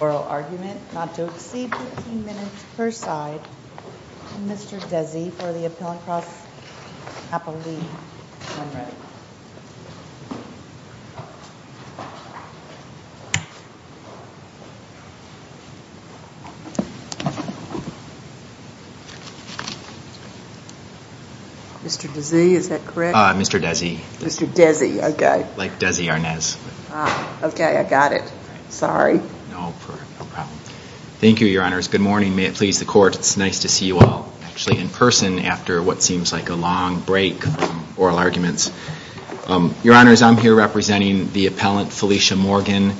Oral argument, not to exceed 15 minutes per side, and Mr. Desi for the Appellant Cross Appellee Number. Mr. Desi, is that correct? Mr. Desi. Mr. Desi, okay. Like Desi Arnaz. Okay, I got it. Sorry. No problem. Thank you, Your Honors. Good morning. May it please the Court, it's nice to see you all actually in person after what seems like a long break from oral arguments. Your Honors, I'm here representing the Appellant Felicia Morgan.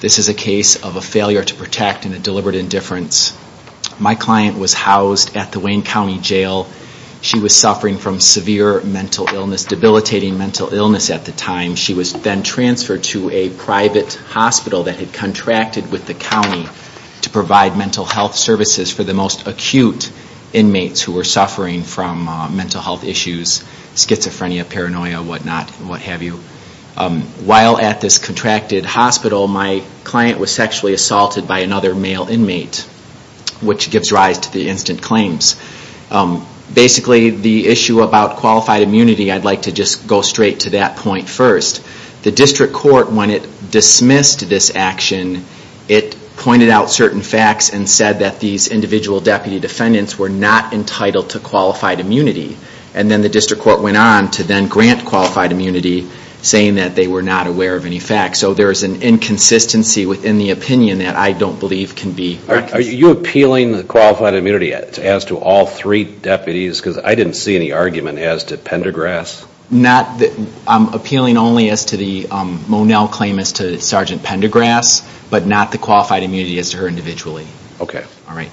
This is a case of a failure to protect and a deliberate indifference. My client was housed at the Wayne County Jail. She was suffering from severe mental illness, debilitating mental illness at the time. She was then transferred to a private hospital that had contracted with the county to provide mental health services for the most acute inmates who were suffering from mental health issues, such as schizophrenia, paranoia, whatnot, what have you. While at this contracted hospital, my client was sexually assaulted by another male inmate, which gives rise to the instant claims. Basically, the issue about qualified immunity, I'd like to just go straight to that point first. The district court, when it dismissed this action, it pointed out certain facts and said that these individual deputy defendants were not entitled to qualified immunity. And then the district court went on to then grant qualified immunity, saying that they were not aware of any facts. So there's an inconsistency within the opinion that I don't believe can be recognized. Are you appealing qualified immunity as to all three deputies? Because I didn't see any argument as to Pendergrass. I'm appealing only as to the Monell claim as to Sergeant Pendergrass, but not the qualified immunity as to her individually. Okay. All right.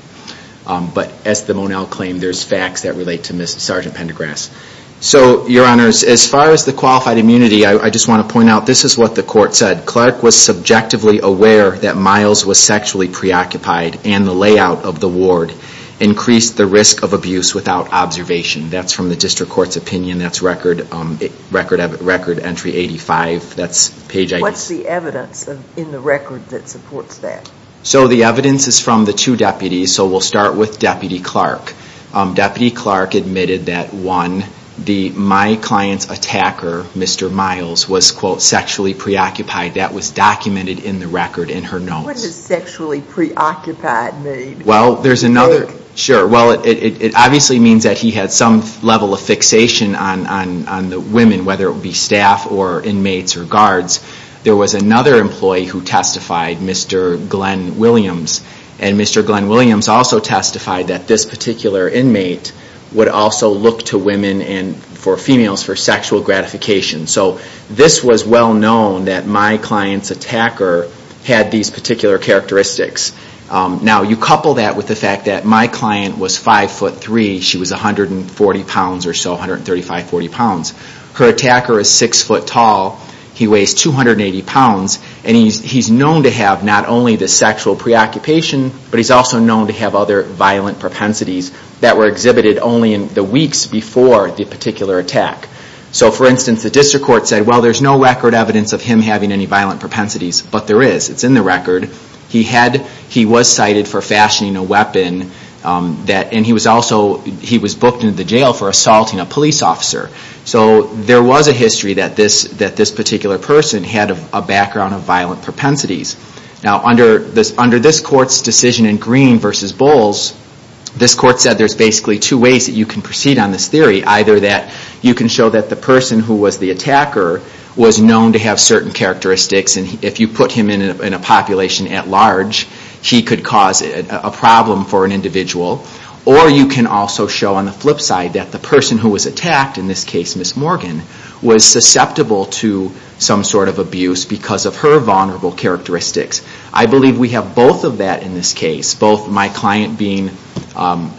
But as the Monell claim, there's facts that relate to Sergeant Pendergrass. So, your honors, as far as the qualified immunity, I just want to point out, this is what the court said. Clark was subjectively aware that Miles was sexually preoccupied, and the layout of the ward increased the risk of abuse without observation. That's from the district court's opinion. That's record entry 85. That's page I. What's the evidence in the record that supports that? So the evidence is from the two deputies, so we'll start with Deputy Clark. Deputy Clark admitted that, one, my client's attacker, Mr. Miles, was, quote, sexually preoccupied. That was documented in the record in her notes. What does sexually preoccupied mean? Well, there's another. Sure. Well, it obviously means that he had some level of fixation on the women, whether it be staff or inmates or guards. There was another employee who testified, Mr. Glenn Williams. And Mr. Glenn Williams also testified that this particular inmate would also look to women and for females for sexual gratification. So this was well known that my client's attacker had these particular characteristics. Now, you couple that with the fact that my client was 5'3", she was 140 pounds or so, 135, 140 pounds. Her attacker is 6' tall. He weighs 280 pounds. And he's known to have not only the sexual preoccupation, but he's also known to have other violent propensities that were exhibited only in the weeks before the particular attack. So, for instance, the district court said, well, there's no record evidence of him having any violent propensities, but there is. It's in the record. He was cited for fashioning a weapon, and he was booked into the jail for assaulting a police officer. So there was a history that this particular person had a background of violent propensities. Now, under this court's decision in Green v. Bowles, this court said there's basically two ways that you can proceed on this theory. Either that you can show that the person who was the attacker was known to have certain characteristics, and if you put him in a population at large, he could cause a problem for an individual. Or you can also show on the flip side that the person who was attacked, in this case Miss Morgan, was susceptible to some sort of abuse because of her vulnerable characteristics. I believe we have both of that in this case. Both my client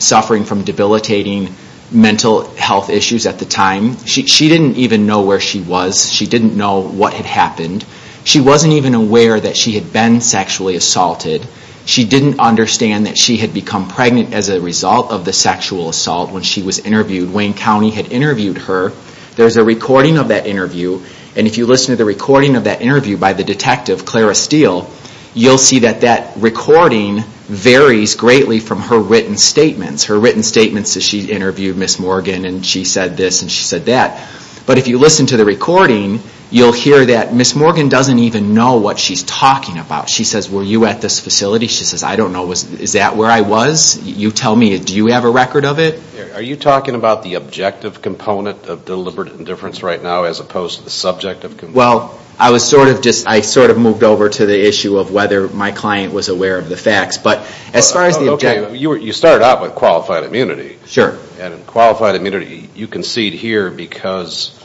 suffering from debilitating mental health issues at the time. She didn't even know where she was. She didn't know what had happened. She wasn't even aware that she had been sexually assaulted. She didn't understand that she had become pregnant as a result of the sexual assault when she was interviewed. Wayne County had interviewed her. There's a recording of that interview, and if you listen to the recording of that interview by the detective, Clara Steele, you'll see that that recording varies greatly from her written statements. Her written statements that she interviewed Miss Morgan, and she said this and she said that. But if you listen to the recording, you'll hear that Miss Morgan doesn't even know what she's talking about. She says, were you at this facility? She says, I don't know. Is that where I was? You tell me. Do you have a record of it? Are you talking about the objective component of deliberate indifference right now as opposed to the subjective component? Well, I was sort of just, I sort of moved over to the issue of whether my client was aware of the facts. But as far as the objective. You started out with qualified immunity. Sure. And qualified immunity, you concede here because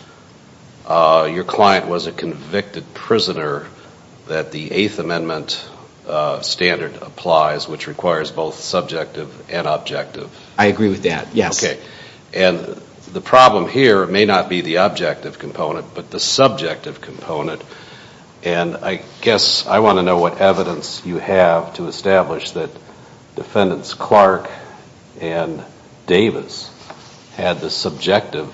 your client was a convicted prisoner that the Eighth Amendment standard applies, which requires both subjective and objective. I agree with that, yes. Okay. And the problem here may not be the objective component, but the subjective component. And I guess I want to know what evidence you have to establish that Defendants Clark and Davis had the subjective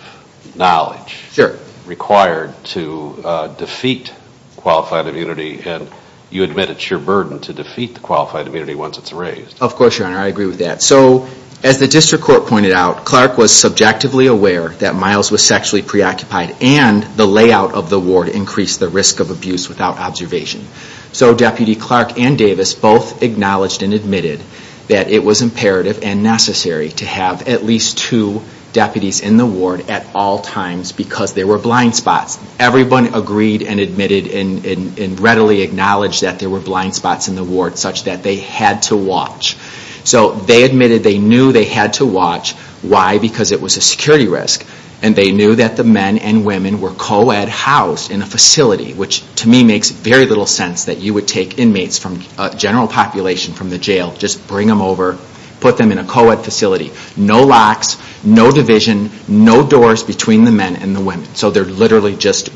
knowledge. Sure. Required to defeat qualified immunity, and you admit it's your burden to defeat the qualified immunity once it's raised. Of course, Your Honor. I agree with that. So as the District Court pointed out, Clark was subjectively aware that Miles was sexually preoccupied and the layout of the ward increased the risk of abuse without observation. So Deputy Clark and Davis both acknowledged and admitted that it was imperative and necessary to have at least two deputies in the ward at all times because there were blind spots. Everyone agreed and admitted and readily acknowledged that there were blind spots in the ward such that they had to watch. So they admitted they knew they had to watch. Why? Because it was a security risk, and they knew that the men and women were co-ed housed in a facility, which to me makes very little sense that you would take inmates from a general population from the jail, just bring them over, put them in a co-ed facility. No locks, no division, no doors between the men and the women. So they're literally just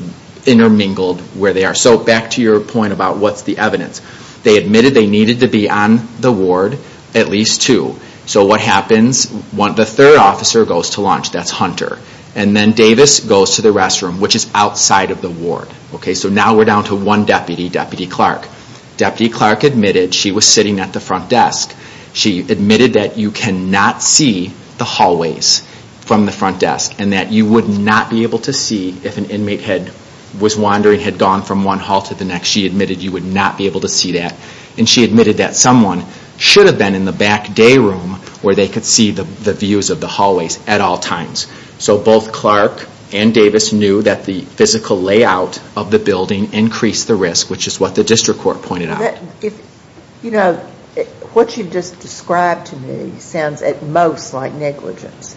intermingled where they are. So back to your point about what's the evidence. They admitted they needed to be on the ward at least two. So what happens? The third officer goes to lunch. That's Hunter. And then Davis goes to the restroom, which is outside of the ward. So now we're down to one deputy, Deputy Clark. Deputy Clark admitted she was sitting at the front desk. She admitted that you cannot see the hallways from the front desk and that you would not be able to see if an inmate was wandering, had gone from one hall to the next. She admitted you would not be able to see that. And she admitted that someone should have been in the back day room where they could see the views of the hallways at all times. So both Clark and Davis knew that the physical layout of the building increased the risk, which is what the district court pointed out. You know, what you just described to me sounds at most like negligence.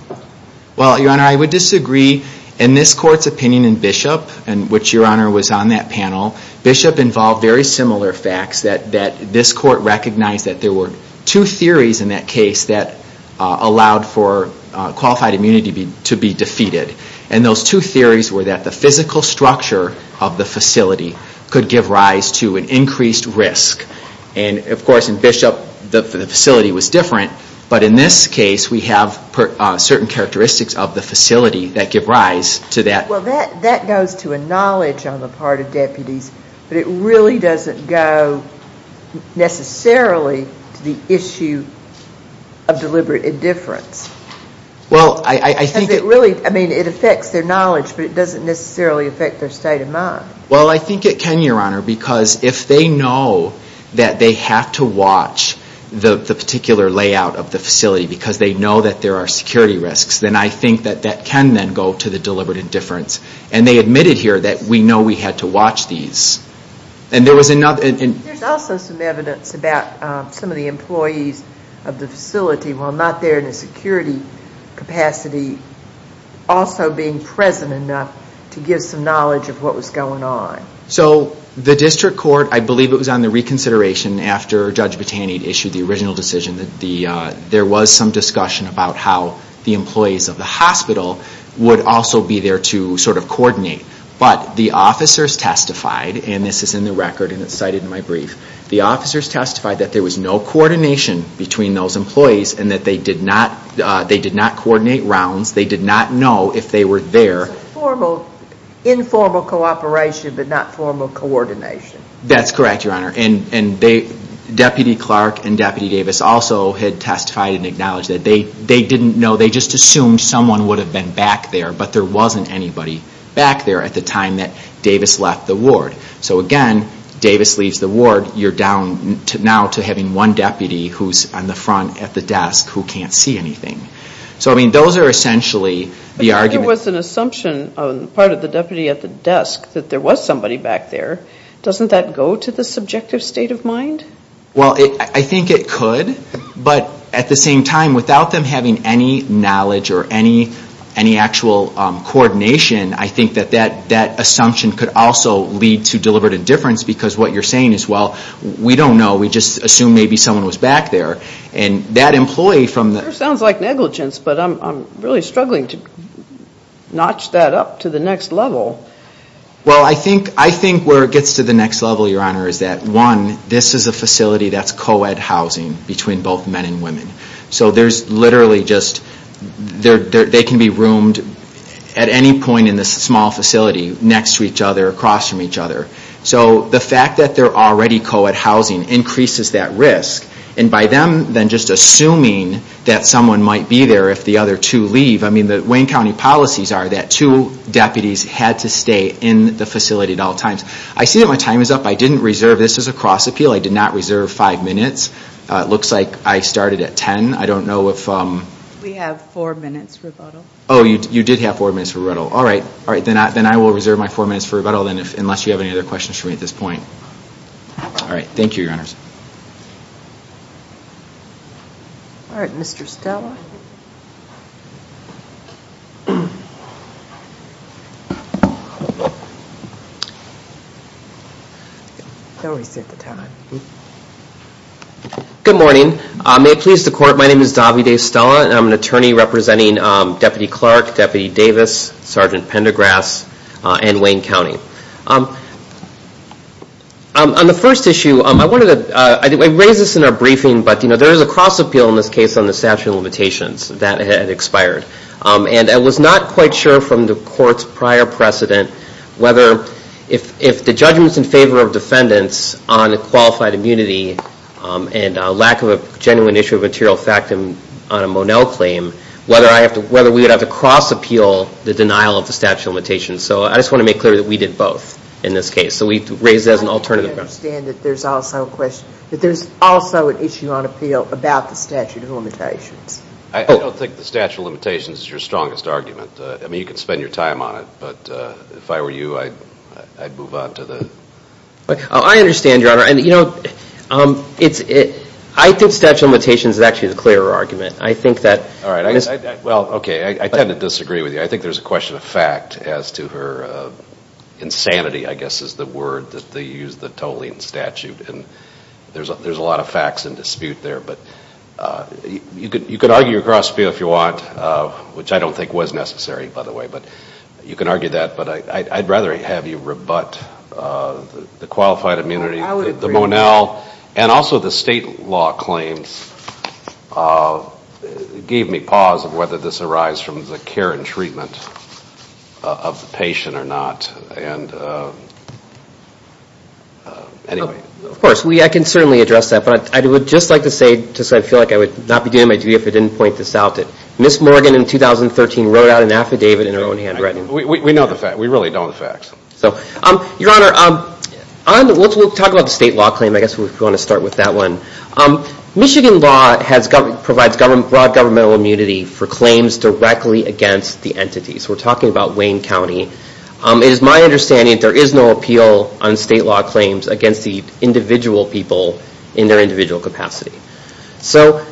Well, Your Honor, I would disagree. In this court's opinion in Bishop, in which Your Honor was on that panel, Bishop involved very similar facts, that this court recognized that there were two theories in that case that allowed for qualified immunity to be defeated. And those two theories were that the physical structure of the facility could give rise to an increased risk. And, of course, in Bishop the facility was different, but in this case we have certain characteristics of the facility that give rise to that. Well, that goes to a knowledge on the part of deputies, but it really doesn't go necessarily to the issue of deliberate indifference. Well, I think... Because it really, I mean, it affects their knowledge, but it doesn't necessarily affect their state of mind. Well, I think it can, Your Honor, because if they know that they have to watch the particular layout of the facility because they know that there are security risks, then I think that that can then go to the deliberate indifference. And they admitted here that we know we had to watch these. And there was another... There's also some evidence about some of the employees of the facility, while not there in a security capacity, also being present enough to give some knowledge of what was going on. So the district court, I believe it was on the reconsideration after Judge Botanied issued the original decision, that there was some discussion about how the employees of the hospital would also be there to sort of coordinate. But the officers testified, and this is in the record, and it's cited in my brief, the officers testified that there was no coordination between those employees and that they did not coordinate rounds. They did not know if they were there. That's correct, Your Honor. And Deputy Clark and Deputy Davis also had testified and acknowledged that they didn't know. They just assumed someone would have been back there, but there wasn't anybody back there at the time that Davis left the ward. So again, Davis leaves the ward, you're down now to having one deputy who's on the front at the desk who can't see anything. So, I mean, those are essentially the arguments. But there was an assumption on the part of the deputy at the desk that there was somebody back there. Doesn't that go to the subjective state of mind? Well, I think it could. But at the same time, without them having any knowledge or any actual coordination, I think that that assumption could also lead to deliberate indifference because what you're saying is, well, we don't know. We just assume maybe someone was back there. And that employee from the – Sure sounds like negligence, but I'm really struggling to notch that up to the next level. Well, I think where it gets to the next level, Your Honor, is that, one, this is a facility that's co-ed housing between both men and women. So there's literally just – they can be roomed at any point in this small facility next to each other, across from each other. So the fact that they're already co-ed housing increases that risk. And by them then just assuming that someone might be there if the other two leave – I mean, the Wayne County policies are that two deputies had to stay in the facility at all times. I see that my time is up. I didn't reserve – this is a cross-appeal. I did not reserve five minutes. It looks like I started at 10. I don't know if – We have four minutes for rebuttal. Oh, you did have four minutes for rebuttal. All right. Then I will reserve my four minutes for rebuttal, unless you have any other questions for me at this point. All right. Thank you, Your Honors. All right. Mr. Stella. Don't reset the time. Good morning. May it please the Court, my name is Davide Stella, and I'm an attorney representing Deputy Clark, Deputy Davis, Sergeant Pendergrass, and Wayne County. Thank you. On the first issue, I wanted to – I raised this in our briefing, but there is a cross-appeal in this case on the statute of limitations that had expired. And I was not quite sure from the Court's prior precedent whether if the judgment's in favor of defendants on qualified immunity and lack of a genuine issue of material fact on a Monell claim, whether we would have to cross-appeal the denial of the statute of limitations. So I just want to make clear that we did both in this case. So we raised it as an alternative. I understand that there's also a question – that there's also an issue on appeal about the statute of limitations. I don't think the statute of limitations is your strongest argument. I mean, you can spend your time on it, but if I were you, I'd move on to the – I understand, Your Honor. You know, I think statute of limitations is actually the clearer argument. I think that – All right. Well, okay, I tend to disagree with you. I think there's a question of fact as to her – insanity, I guess, is the word that they use, the tolling statute. And there's a lot of facts in dispute there. But you could argue a cross-appeal if you want, which I don't think was necessary, by the way. But you can argue that. But I'd rather have you rebut the qualified immunity. I would agree. The Monell and also the state law claims gave me pause of whether this arises from the care and treatment of the patient or not. And anyway. Of course, I can certainly address that. But I would just like to say, because I feel like I would not be doing my duty if I didn't point this out, that Ms. Morgan in 2013 wrote out an affidavit in her own handwriting. We know the facts. We really know the facts. So, Your Honor, we'll talk about the state law claim. I guess we want to start with that one. Michigan law provides broad governmental immunity for claims directly against the entities. We're talking about Wayne County. It is my understanding that there is no appeal on state law claims against the individual people in their individual capacity. So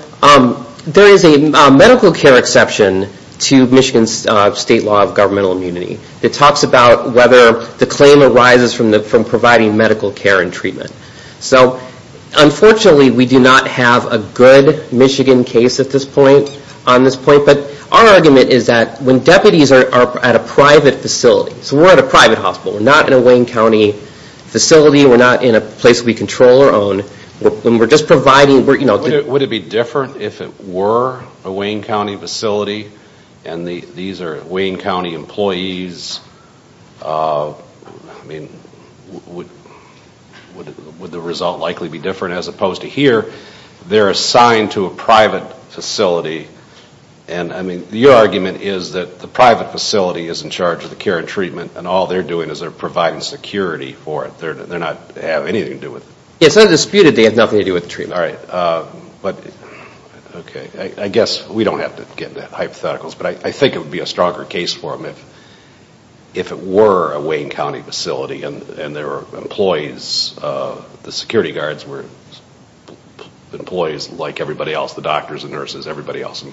there is a medical care exception to Michigan's state law of governmental immunity that talks about whether the claim arises from providing medical care and treatment. So, unfortunately, we do not have a good Michigan case at this point, on this point. But our argument is that when deputies are at a private facility, so we're at a private hospital. We're not in a Wayne County facility. We're not in a place we control or own. We're just providing, you know. Would it be different if it were a Wayne County facility and these are Wayne County employees? I mean, would the result likely be different? As opposed to here, they're assigned to a private facility. And, I mean, your argument is that the private facility is in charge of the care and treatment and all they're doing is they're providing security for it. They're not having anything to do with it. It's not disputed they have nothing to do with the treatment. All right. But, okay. I guess we don't have to get into hypotheticals. But I think it would be a stronger case for them if it were a Wayne County facility and there were employees, the security guards were employees like everybody else, the doctors and nurses, everybody else.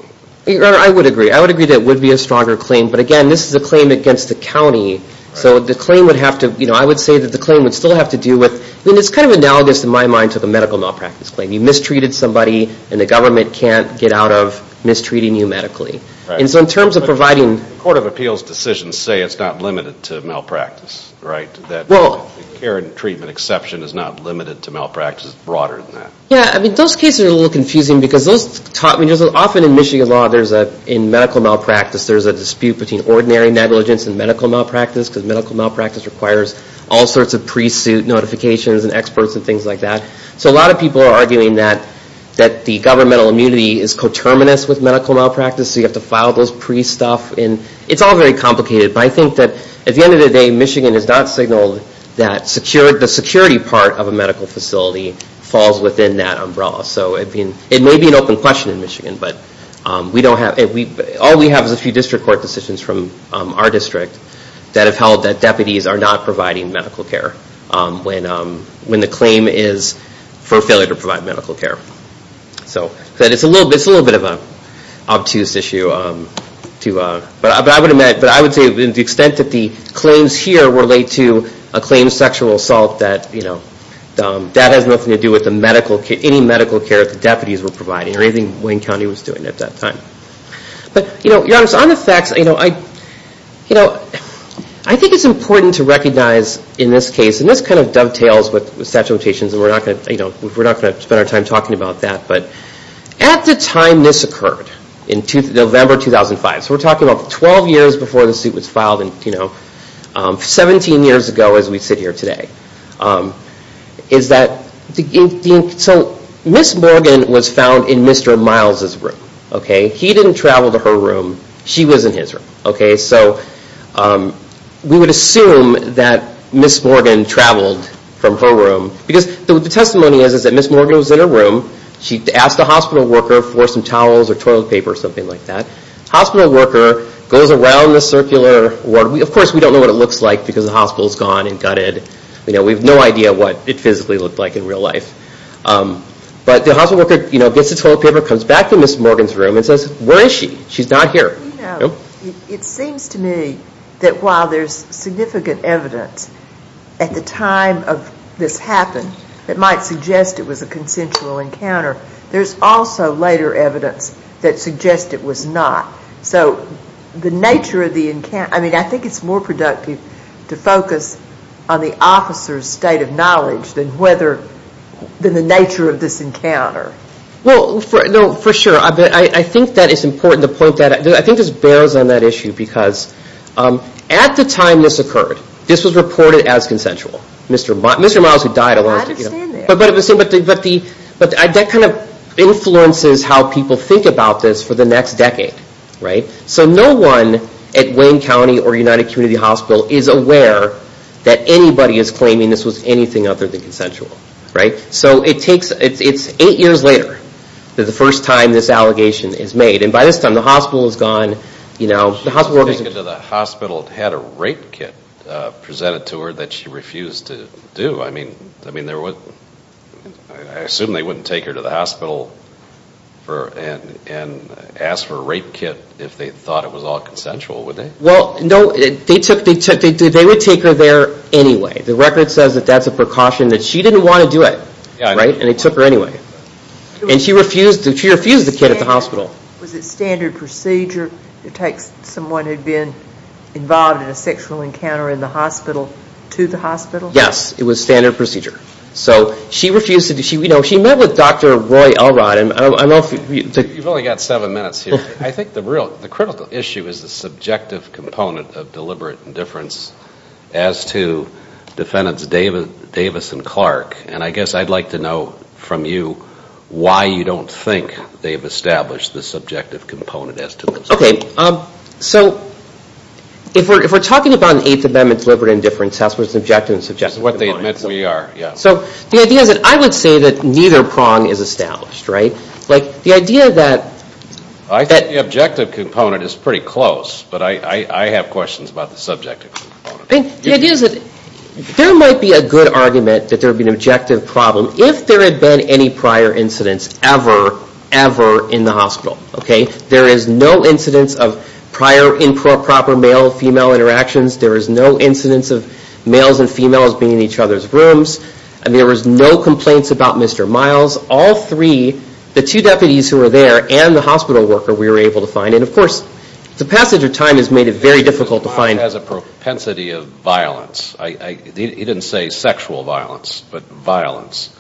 Your Honor, I would agree. I would agree that it would be a stronger claim. But, again, this is a claim against the county. So the claim would have to, you know, I would say that the claim would still have to do with, I mean, it's kind of analogous in my mind to the medical malpractice claim. You mistreated somebody and the government can't get out of mistreating you medically. And so in terms of providing But the Court of Appeals decisions say it's not limited to malpractice, right? Well That the care and treatment exception is not limited to malpractice. It's broader than that. Yeah, I mean, those cases are a little confusing because those taught me, often in Michigan law there's a, in medical malpractice, there's a dispute between ordinary negligence and medical malpractice because medical malpractice requires all sorts of pre-suit notifications and experts and things like that. So a lot of people are arguing that the governmental immunity is coterminous with medical malpractice, so you have to file those pre-stuff. It's all very complicated, but I think that at the end of the day, Michigan has not signaled that the security part of a medical facility falls within that umbrella. So it may be an open question in Michigan, but we don't have, all we have is a few district court decisions from our district that have held that deputies are not providing medical care when the claim is for failure to provide medical care. So it's a little bit of an obtuse issue, but I would admit, but I would say the extent that the claims here relate to a claim of sexual assault that has nothing to do with any medical care that the deputies were providing or anything Wayne County was doing at that time. But your Honor, on the facts, I think it's important to recognize in this case, and we're not going to spend our time talking about that, but at the time this occurred, in November 2005, so we're talking about 12 years before the suit was filed, 17 years ago as we sit here today, is that Ms. Morgan was found in Mr. Miles' room. He didn't travel to her room, she was in his room. So we would assume that Ms. Morgan traveled from her room, because the testimony is that Ms. Morgan was in her room. She asked the hospital worker for some towels or toilet paper or something like that. The hospital worker goes around the circular ward. Of course, we don't know what it looks like because the hospital is gone and gutted. We have no idea what it physically looked like in real life. But the hospital worker gets the toilet paper, comes back to Ms. Morgan's room, and says, where is she? She's not here. It seems to me that while there's significant evidence at the time of this happening that might suggest it was a consensual encounter, there's also later evidence that suggests it was not. So the nature of the encounter, I think it's more productive to focus on the officer's state of knowledge than the nature of this encounter. Well, for sure. I think that it's important to point that out. I think this bears on that issue because at the time this occurred, this was reported as consensual. I understand that. But that kind of influences how people think about this for the next decade. So no one at Wayne County or United Community Hospital is aware that anybody is claiming this was anything other than consensual. So it's eight years later that the first time this allegation is made. And by this time, the hospital is gone. The hospital had a rape kit presented to her that she refused to do. I assume they wouldn't take her to the hospital and ask for a rape kit if they thought it was all consensual, would they? Well, no. They would take her there anyway. The record says that that's a precaution, that she didn't want to do it. And they took her anyway. And she refused the kit at the hospital. Was it standard procedure to take someone who had been involved in a sexual encounter in the hospital to the hospital? Yes, it was standard procedure. So she refused to do it. She met with Dr. Roy Allrott. You've only got seven minutes here. I think the critical issue is the subjective component of deliberate indifference as to defendants Davis and Clark. And I guess I'd like to know from you why you don't think they've established the subjective component as to themselves. Okay. So if we're talking about an Eighth Amendment deliberate indifference, that's what the subjective and subjective components are. That's what they admit we are, yeah. So the idea is that I would say that neither prong is established, right? Like, the idea that – I think the objective component is pretty close, but I have questions about the subjective component. The idea is that there might be a good argument that there would be an objective problem if there had been any prior incidents ever, ever in the hospital, okay? There is no incidence of prior improper male-female interactions. There is no incidence of males and females being in each other's rooms. There was no complaints about Mr. Miles. All three, the two deputies who were there and the hospital worker, we were able to find. And, of course, the passage of time has made it very difficult to find. Mr. Miles has a propensity of violence. He didn't say sexual violence, but violence.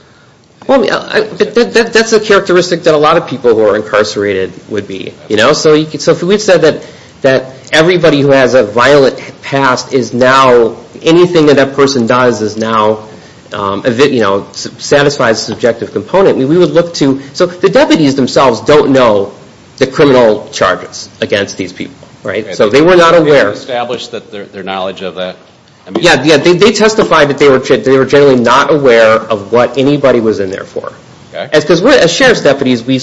Well, that's a characteristic that a lot of people who are incarcerated would be. So if we said that everybody who has a violent past is now – anything that that person does is now a satisfied subjective component, we would look to – so the deputies themselves don't know the criminal charges against these people, right? So they were not aware. They didn't establish their knowledge of the – Yeah, they testified that they were generally not aware of what anybody was in there for. Because as sheriff's deputies, we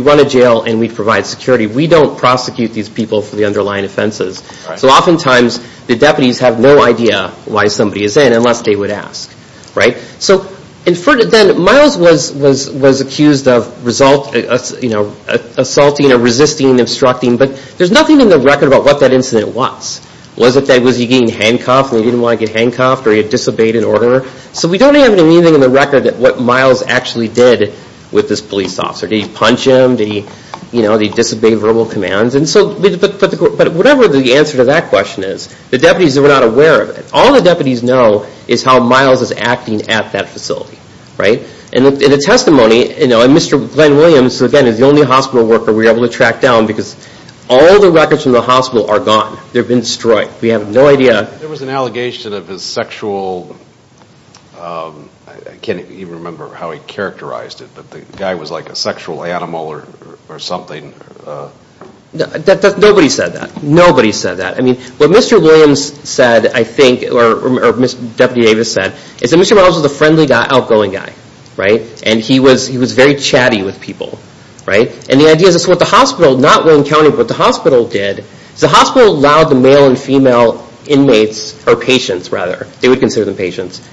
run a jail and we provide security. We don't prosecute these people for the underlying offenses. So oftentimes the deputies have no idea why somebody is in unless they would ask, right? So then Miles was accused of assaulting or resisting, obstructing, but there's nothing in the record about what that incident was. Was he getting handcuffed and he didn't want to get handcuffed? Or he had disobeyed an order? So we don't have anything in the record of what Miles actually did with this police officer. Did he punch him? Did he, you know, did he disobey verbal commands? And so – but whatever the answer to that question is, the deputies were not aware of it. All the deputies know is how Miles is acting at that facility, right? And the testimony – and Mr. Glenn Williams, again, is the only hospital worker we're able to track down because all the records from the hospital are gone. They've been destroyed. We have no idea. There was an allegation of his sexual – I can't even remember how he characterized it, but the guy was like a sexual animal or something. Nobody said that. Nobody said that. I mean, what Mr. Williams said, I think, or Deputy Davis said, is that Mr. Miles was a friendly guy, outgoing guy, right? And he was very chatty with people, right? And the idea is that's what the hospital, not William County, but what the hospital did is the hospital allowed the male and female inmates, or patients rather, they would consider them patients,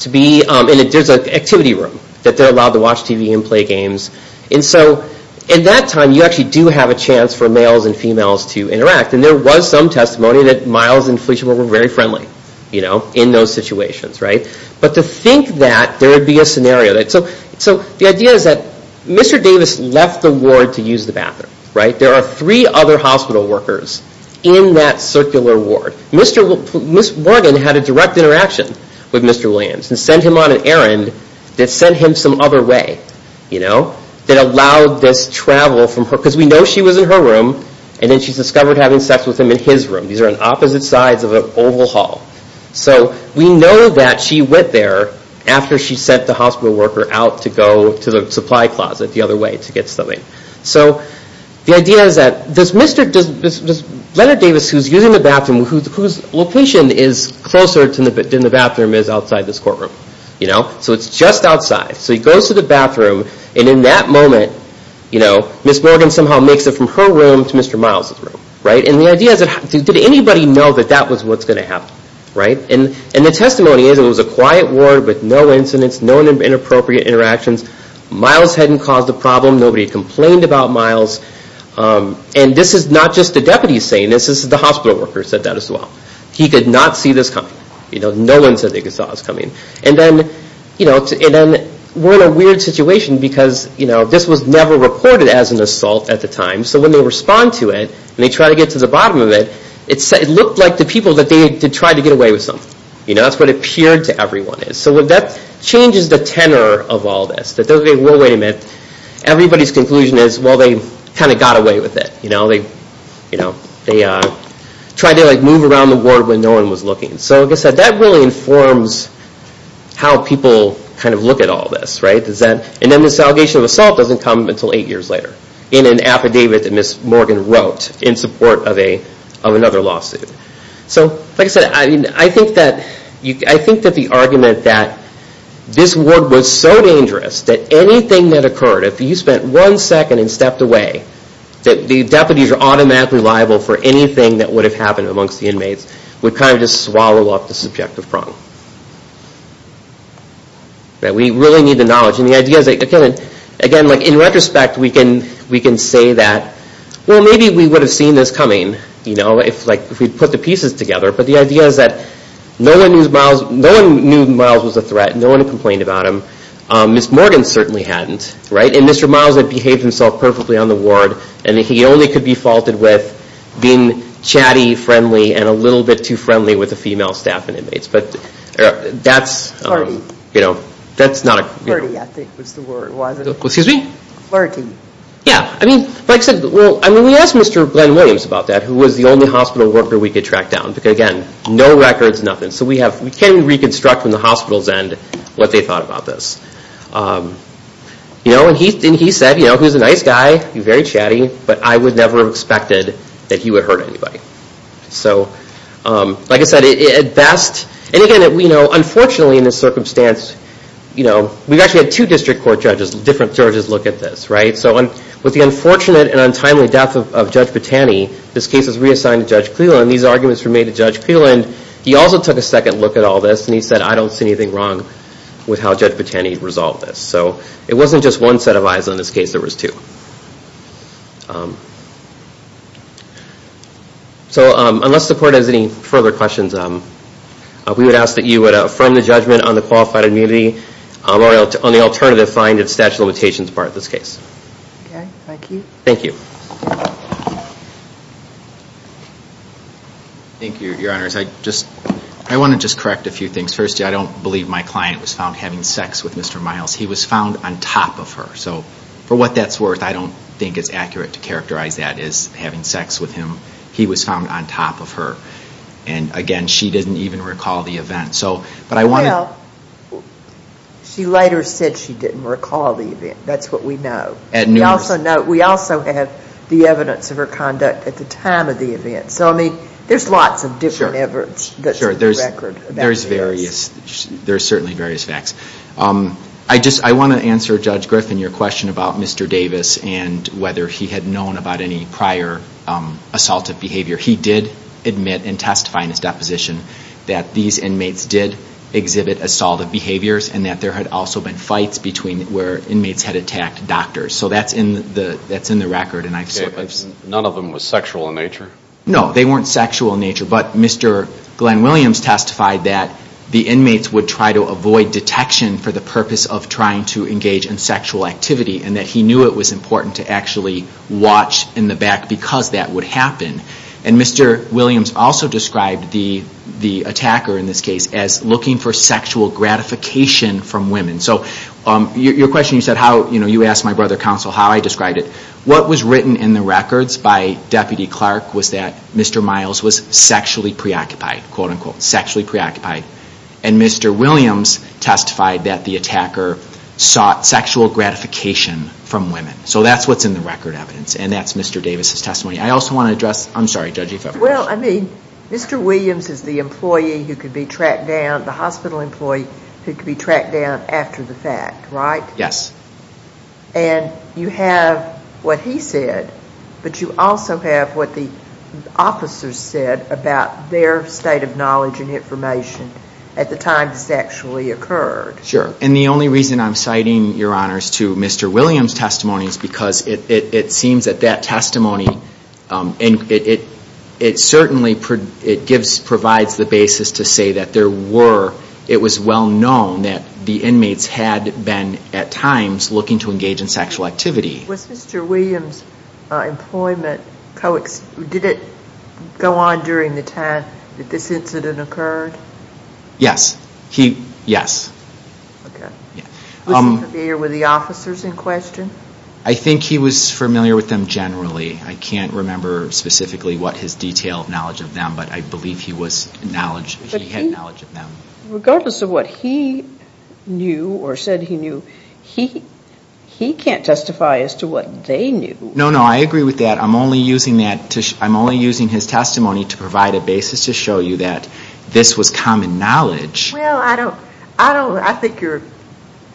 to be – and there's an activity room that they're allowed to watch TV and play games. And so in that time, you actually do have a chance for males and females to interact. And there was some testimony that Miles and Felicia were very friendly, you know, in those situations, right? But to think that there would be a scenario that – So the idea is that Mr. Davis left the ward to use the bathroom, right? There are three other hospital workers in that circular ward. Ms. Morgan had a direct interaction with Mr. Williams and sent him on an errand that sent him some other way, you know, that allowed this travel from her – because we know she was in her room and then she's discovered having sex with him in his room. These are on opposite sides of an oval hall. So we know that she went there after she sent the hospital worker out to go to the supply closet the other way to get something. So the idea is that this Mr. – Leonard Davis, who's using the bathroom, whose location is closer than the bathroom is outside this courtroom, you know? So it's just outside. So he goes to the bathroom and in that moment, you know, Ms. Morgan somehow makes it from her room to Mr. Miles' room, right? And the idea is that – did anybody know that that was what's going to happen, right? And the testimony is it was a quiet ward with no incidents, no inappropriate interactions. Miles hadn't caused a problem. Nobody complained about Miles. And this is not just the deputies saying this. This is – the hospital worker said that as well. He could not see this coming. You know, no one said they saw this coming. And then, you know, we're in a weird situation because, you know, this was never reported as an assault at the time. So when they respond to it and they try to get to the bottom of it, it looked like the people that they had tried to get away with something. You know, that's what it appeared to everyone is. So that changes the tenor of all this. That they're like, whoa, wait a minute. Everybody's conclusion is, well, they kind of got away with it. You know, they tried to, like, move around the ward when no one was looking. So like I said, that really informs how people kind of look at all this, right? And then this allegation of assault doesn't come until eight years later in an affidavit that Ms. Morgan wrote in support of another lawsuit. So, like I said, I think that the argument that this ward was so dangerous that anything that occurred, if you spent one second and stepped away, that the deputies are automatically liable for anything that would have happened amongst the inmates, would kind of just swallow up the subjective problem. We really need the knowledge. And the idea is, again, in retrospect, we can say that, well, maybe we would have seen this coming, you know, if we'd put the pieces together. But the idea is that no one knew Miles was a threat. No one complained about him. Ms. Morgan certainly hadn't, right? And Mr. Miles had behaved himself perfectly on the ward. And he only could be faulted with being chatty, friendly, and a little bit too friendly with the female staff and inmates. Flirty. You know, that's not a... Flirty, I think was the word, wasn't it? Excuse me? Flirty. Yeah. Like I said, we asked Mr. Glenn Williams about that, who was the only hospital worker we could track down. Again, no records, nothing. So we can't even reconstruct from the hospital's end what they thought about this. And he said, you know, he was a nice guy, very chatty, but I would never have expected that he would hurt anybody. So, like I said, at best... And again, you know, unfortunately in this circumstance, you know, we've actually had two district court judges, different judges look at this, right? So with the unfortunate and untimely death of Judge Botani, this case was reassigned to Judge Cleland. These arguments were made to Judge Cleland. He also took a second look at all this, and he said, I don't see anything wrong with how Judge Botani resolved this. So it wasn't just one set of eyes on this case, there was two. So unless the court has any further questions, we would ask that you would affirm the judgment on the qualified immunity, or on the alternative, find its statute of limitations part of this case. Okay, thank you. Thank you. Thank you, Your Honors. I want to just correct a few things. First, I don't believe my client was found having sex with Mr. Miles. He was found on top of her. So for what that's worth, I don't think it's accurate to characterize that as having sex with him. He was found on top of her. And again, she didn't even recall the event. Well, she later said she didn't recall the event. That's what we know. At noon. We also have the evidence of her conduct at the time of the event. So I mean, there's lots of different evidence that's on the record. Sure, there's various. There's certainly various facts. I want to answer, Judge Griffin, your question about Mr. Davis and whether he had known about any prior assaultive behavior. He did admit and testify in his deposition that these inmates did exhibit assaultive behaviors and that there had also been fights between where inmates had attacked doctors. So that's in the record. Okay, but none of them were sexual in nature? No, they weren't sexual in nature. But Mr. Glenn Williams testified that the inmates would try to avoid detection for the purpose of trying to engage in sexual activity and that he knew it was important to actually watch in the back because that would happen. And Mr. Williams also described the attacker in this case as looking for sexual gratification from women. So your question, you asked my brother counsel how I described it. What was written in the records by Deputy Clark was that Mr. Miles was sexually preoccupied, quote-unquote, sexually preoccupied. And Mr. Williams testified that the attacker sought sexual gratification from women. So that's what's in the record evidence. And that's Mr. Davis' testimony. I also want to address, I'm sorry, Judge, you have a question. Well, I mean, Mr. Williams is the hospital employee who could be tracked down after the fact, right? Yes. And you have what he said, but you also have what the officers said about their state of knowledge and information at the time this actually occurred. Sure. And the only reason I'm citing your honors to Mr. Williams' testimony is because it seems that that testimony, and it certainly provides the basis to say that there were, it was well known that the inmates had been at times looking to engage in sexual activity. Was Mr. Williams' employment, did it go on during the time that this incident occurred? Yes. Okay. Was he familiar with the officers in question? I think he was familiar with them generally. I can't remember specifically what his detailed knowledge of them, but I believe he had knowledge of them. Regardless of what he knew or said he knew, he can't testify as to what they knew. No, no, I agree with that. I'm only using that, I'm only using his testimony to provide a basis to show you that this was common knowledge. Well, I don't, I don't, I think you're,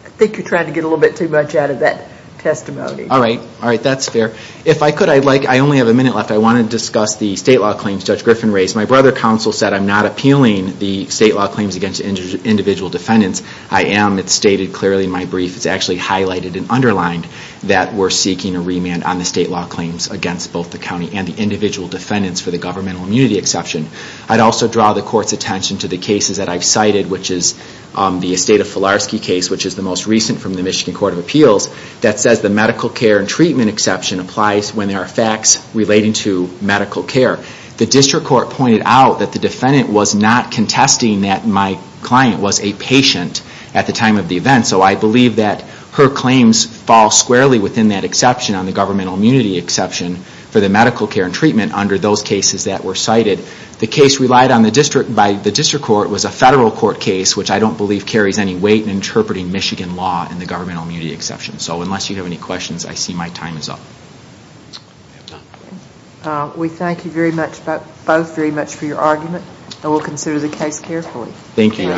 I think you're trying to get a little bit too much out of that testimony. All right, all right, that's fair. If I could, I'd like, I only have a minute left. I want to discuss the state law claims Judge Griffin raised. My brother counsel said I'm not appealing the state law claims against individual defendants. I am, it's stated clearly in my brief. It's actually highlighted and underlined that we're seeking a remand on the state law claims against both the county and the individual defendants for the governmental immunity exception. I'd also draw the court's attention to the cases that I've cited, which is the Esteta-Filarski case, which is the most recent from the Michigan Court of Appeals, that says the medical care and treatment exception applies when there are facts relating to medical care. The district court pointed out that the defendant was not contesting that my client was a patient at the time of the event. So I believe that her claims fall squarely within that exception on the governmental immunity exception for the medical care and treatment under those cases that were cited. The case relied on the district, by the district court, was a federal court case, which I don't believe carries any weight in interpreting Michigan law in the governmental immunity exception. So unless you have any questions, I see my time is up. We thank you both very much for your argument. And we'll consider the case carefully. Thank you.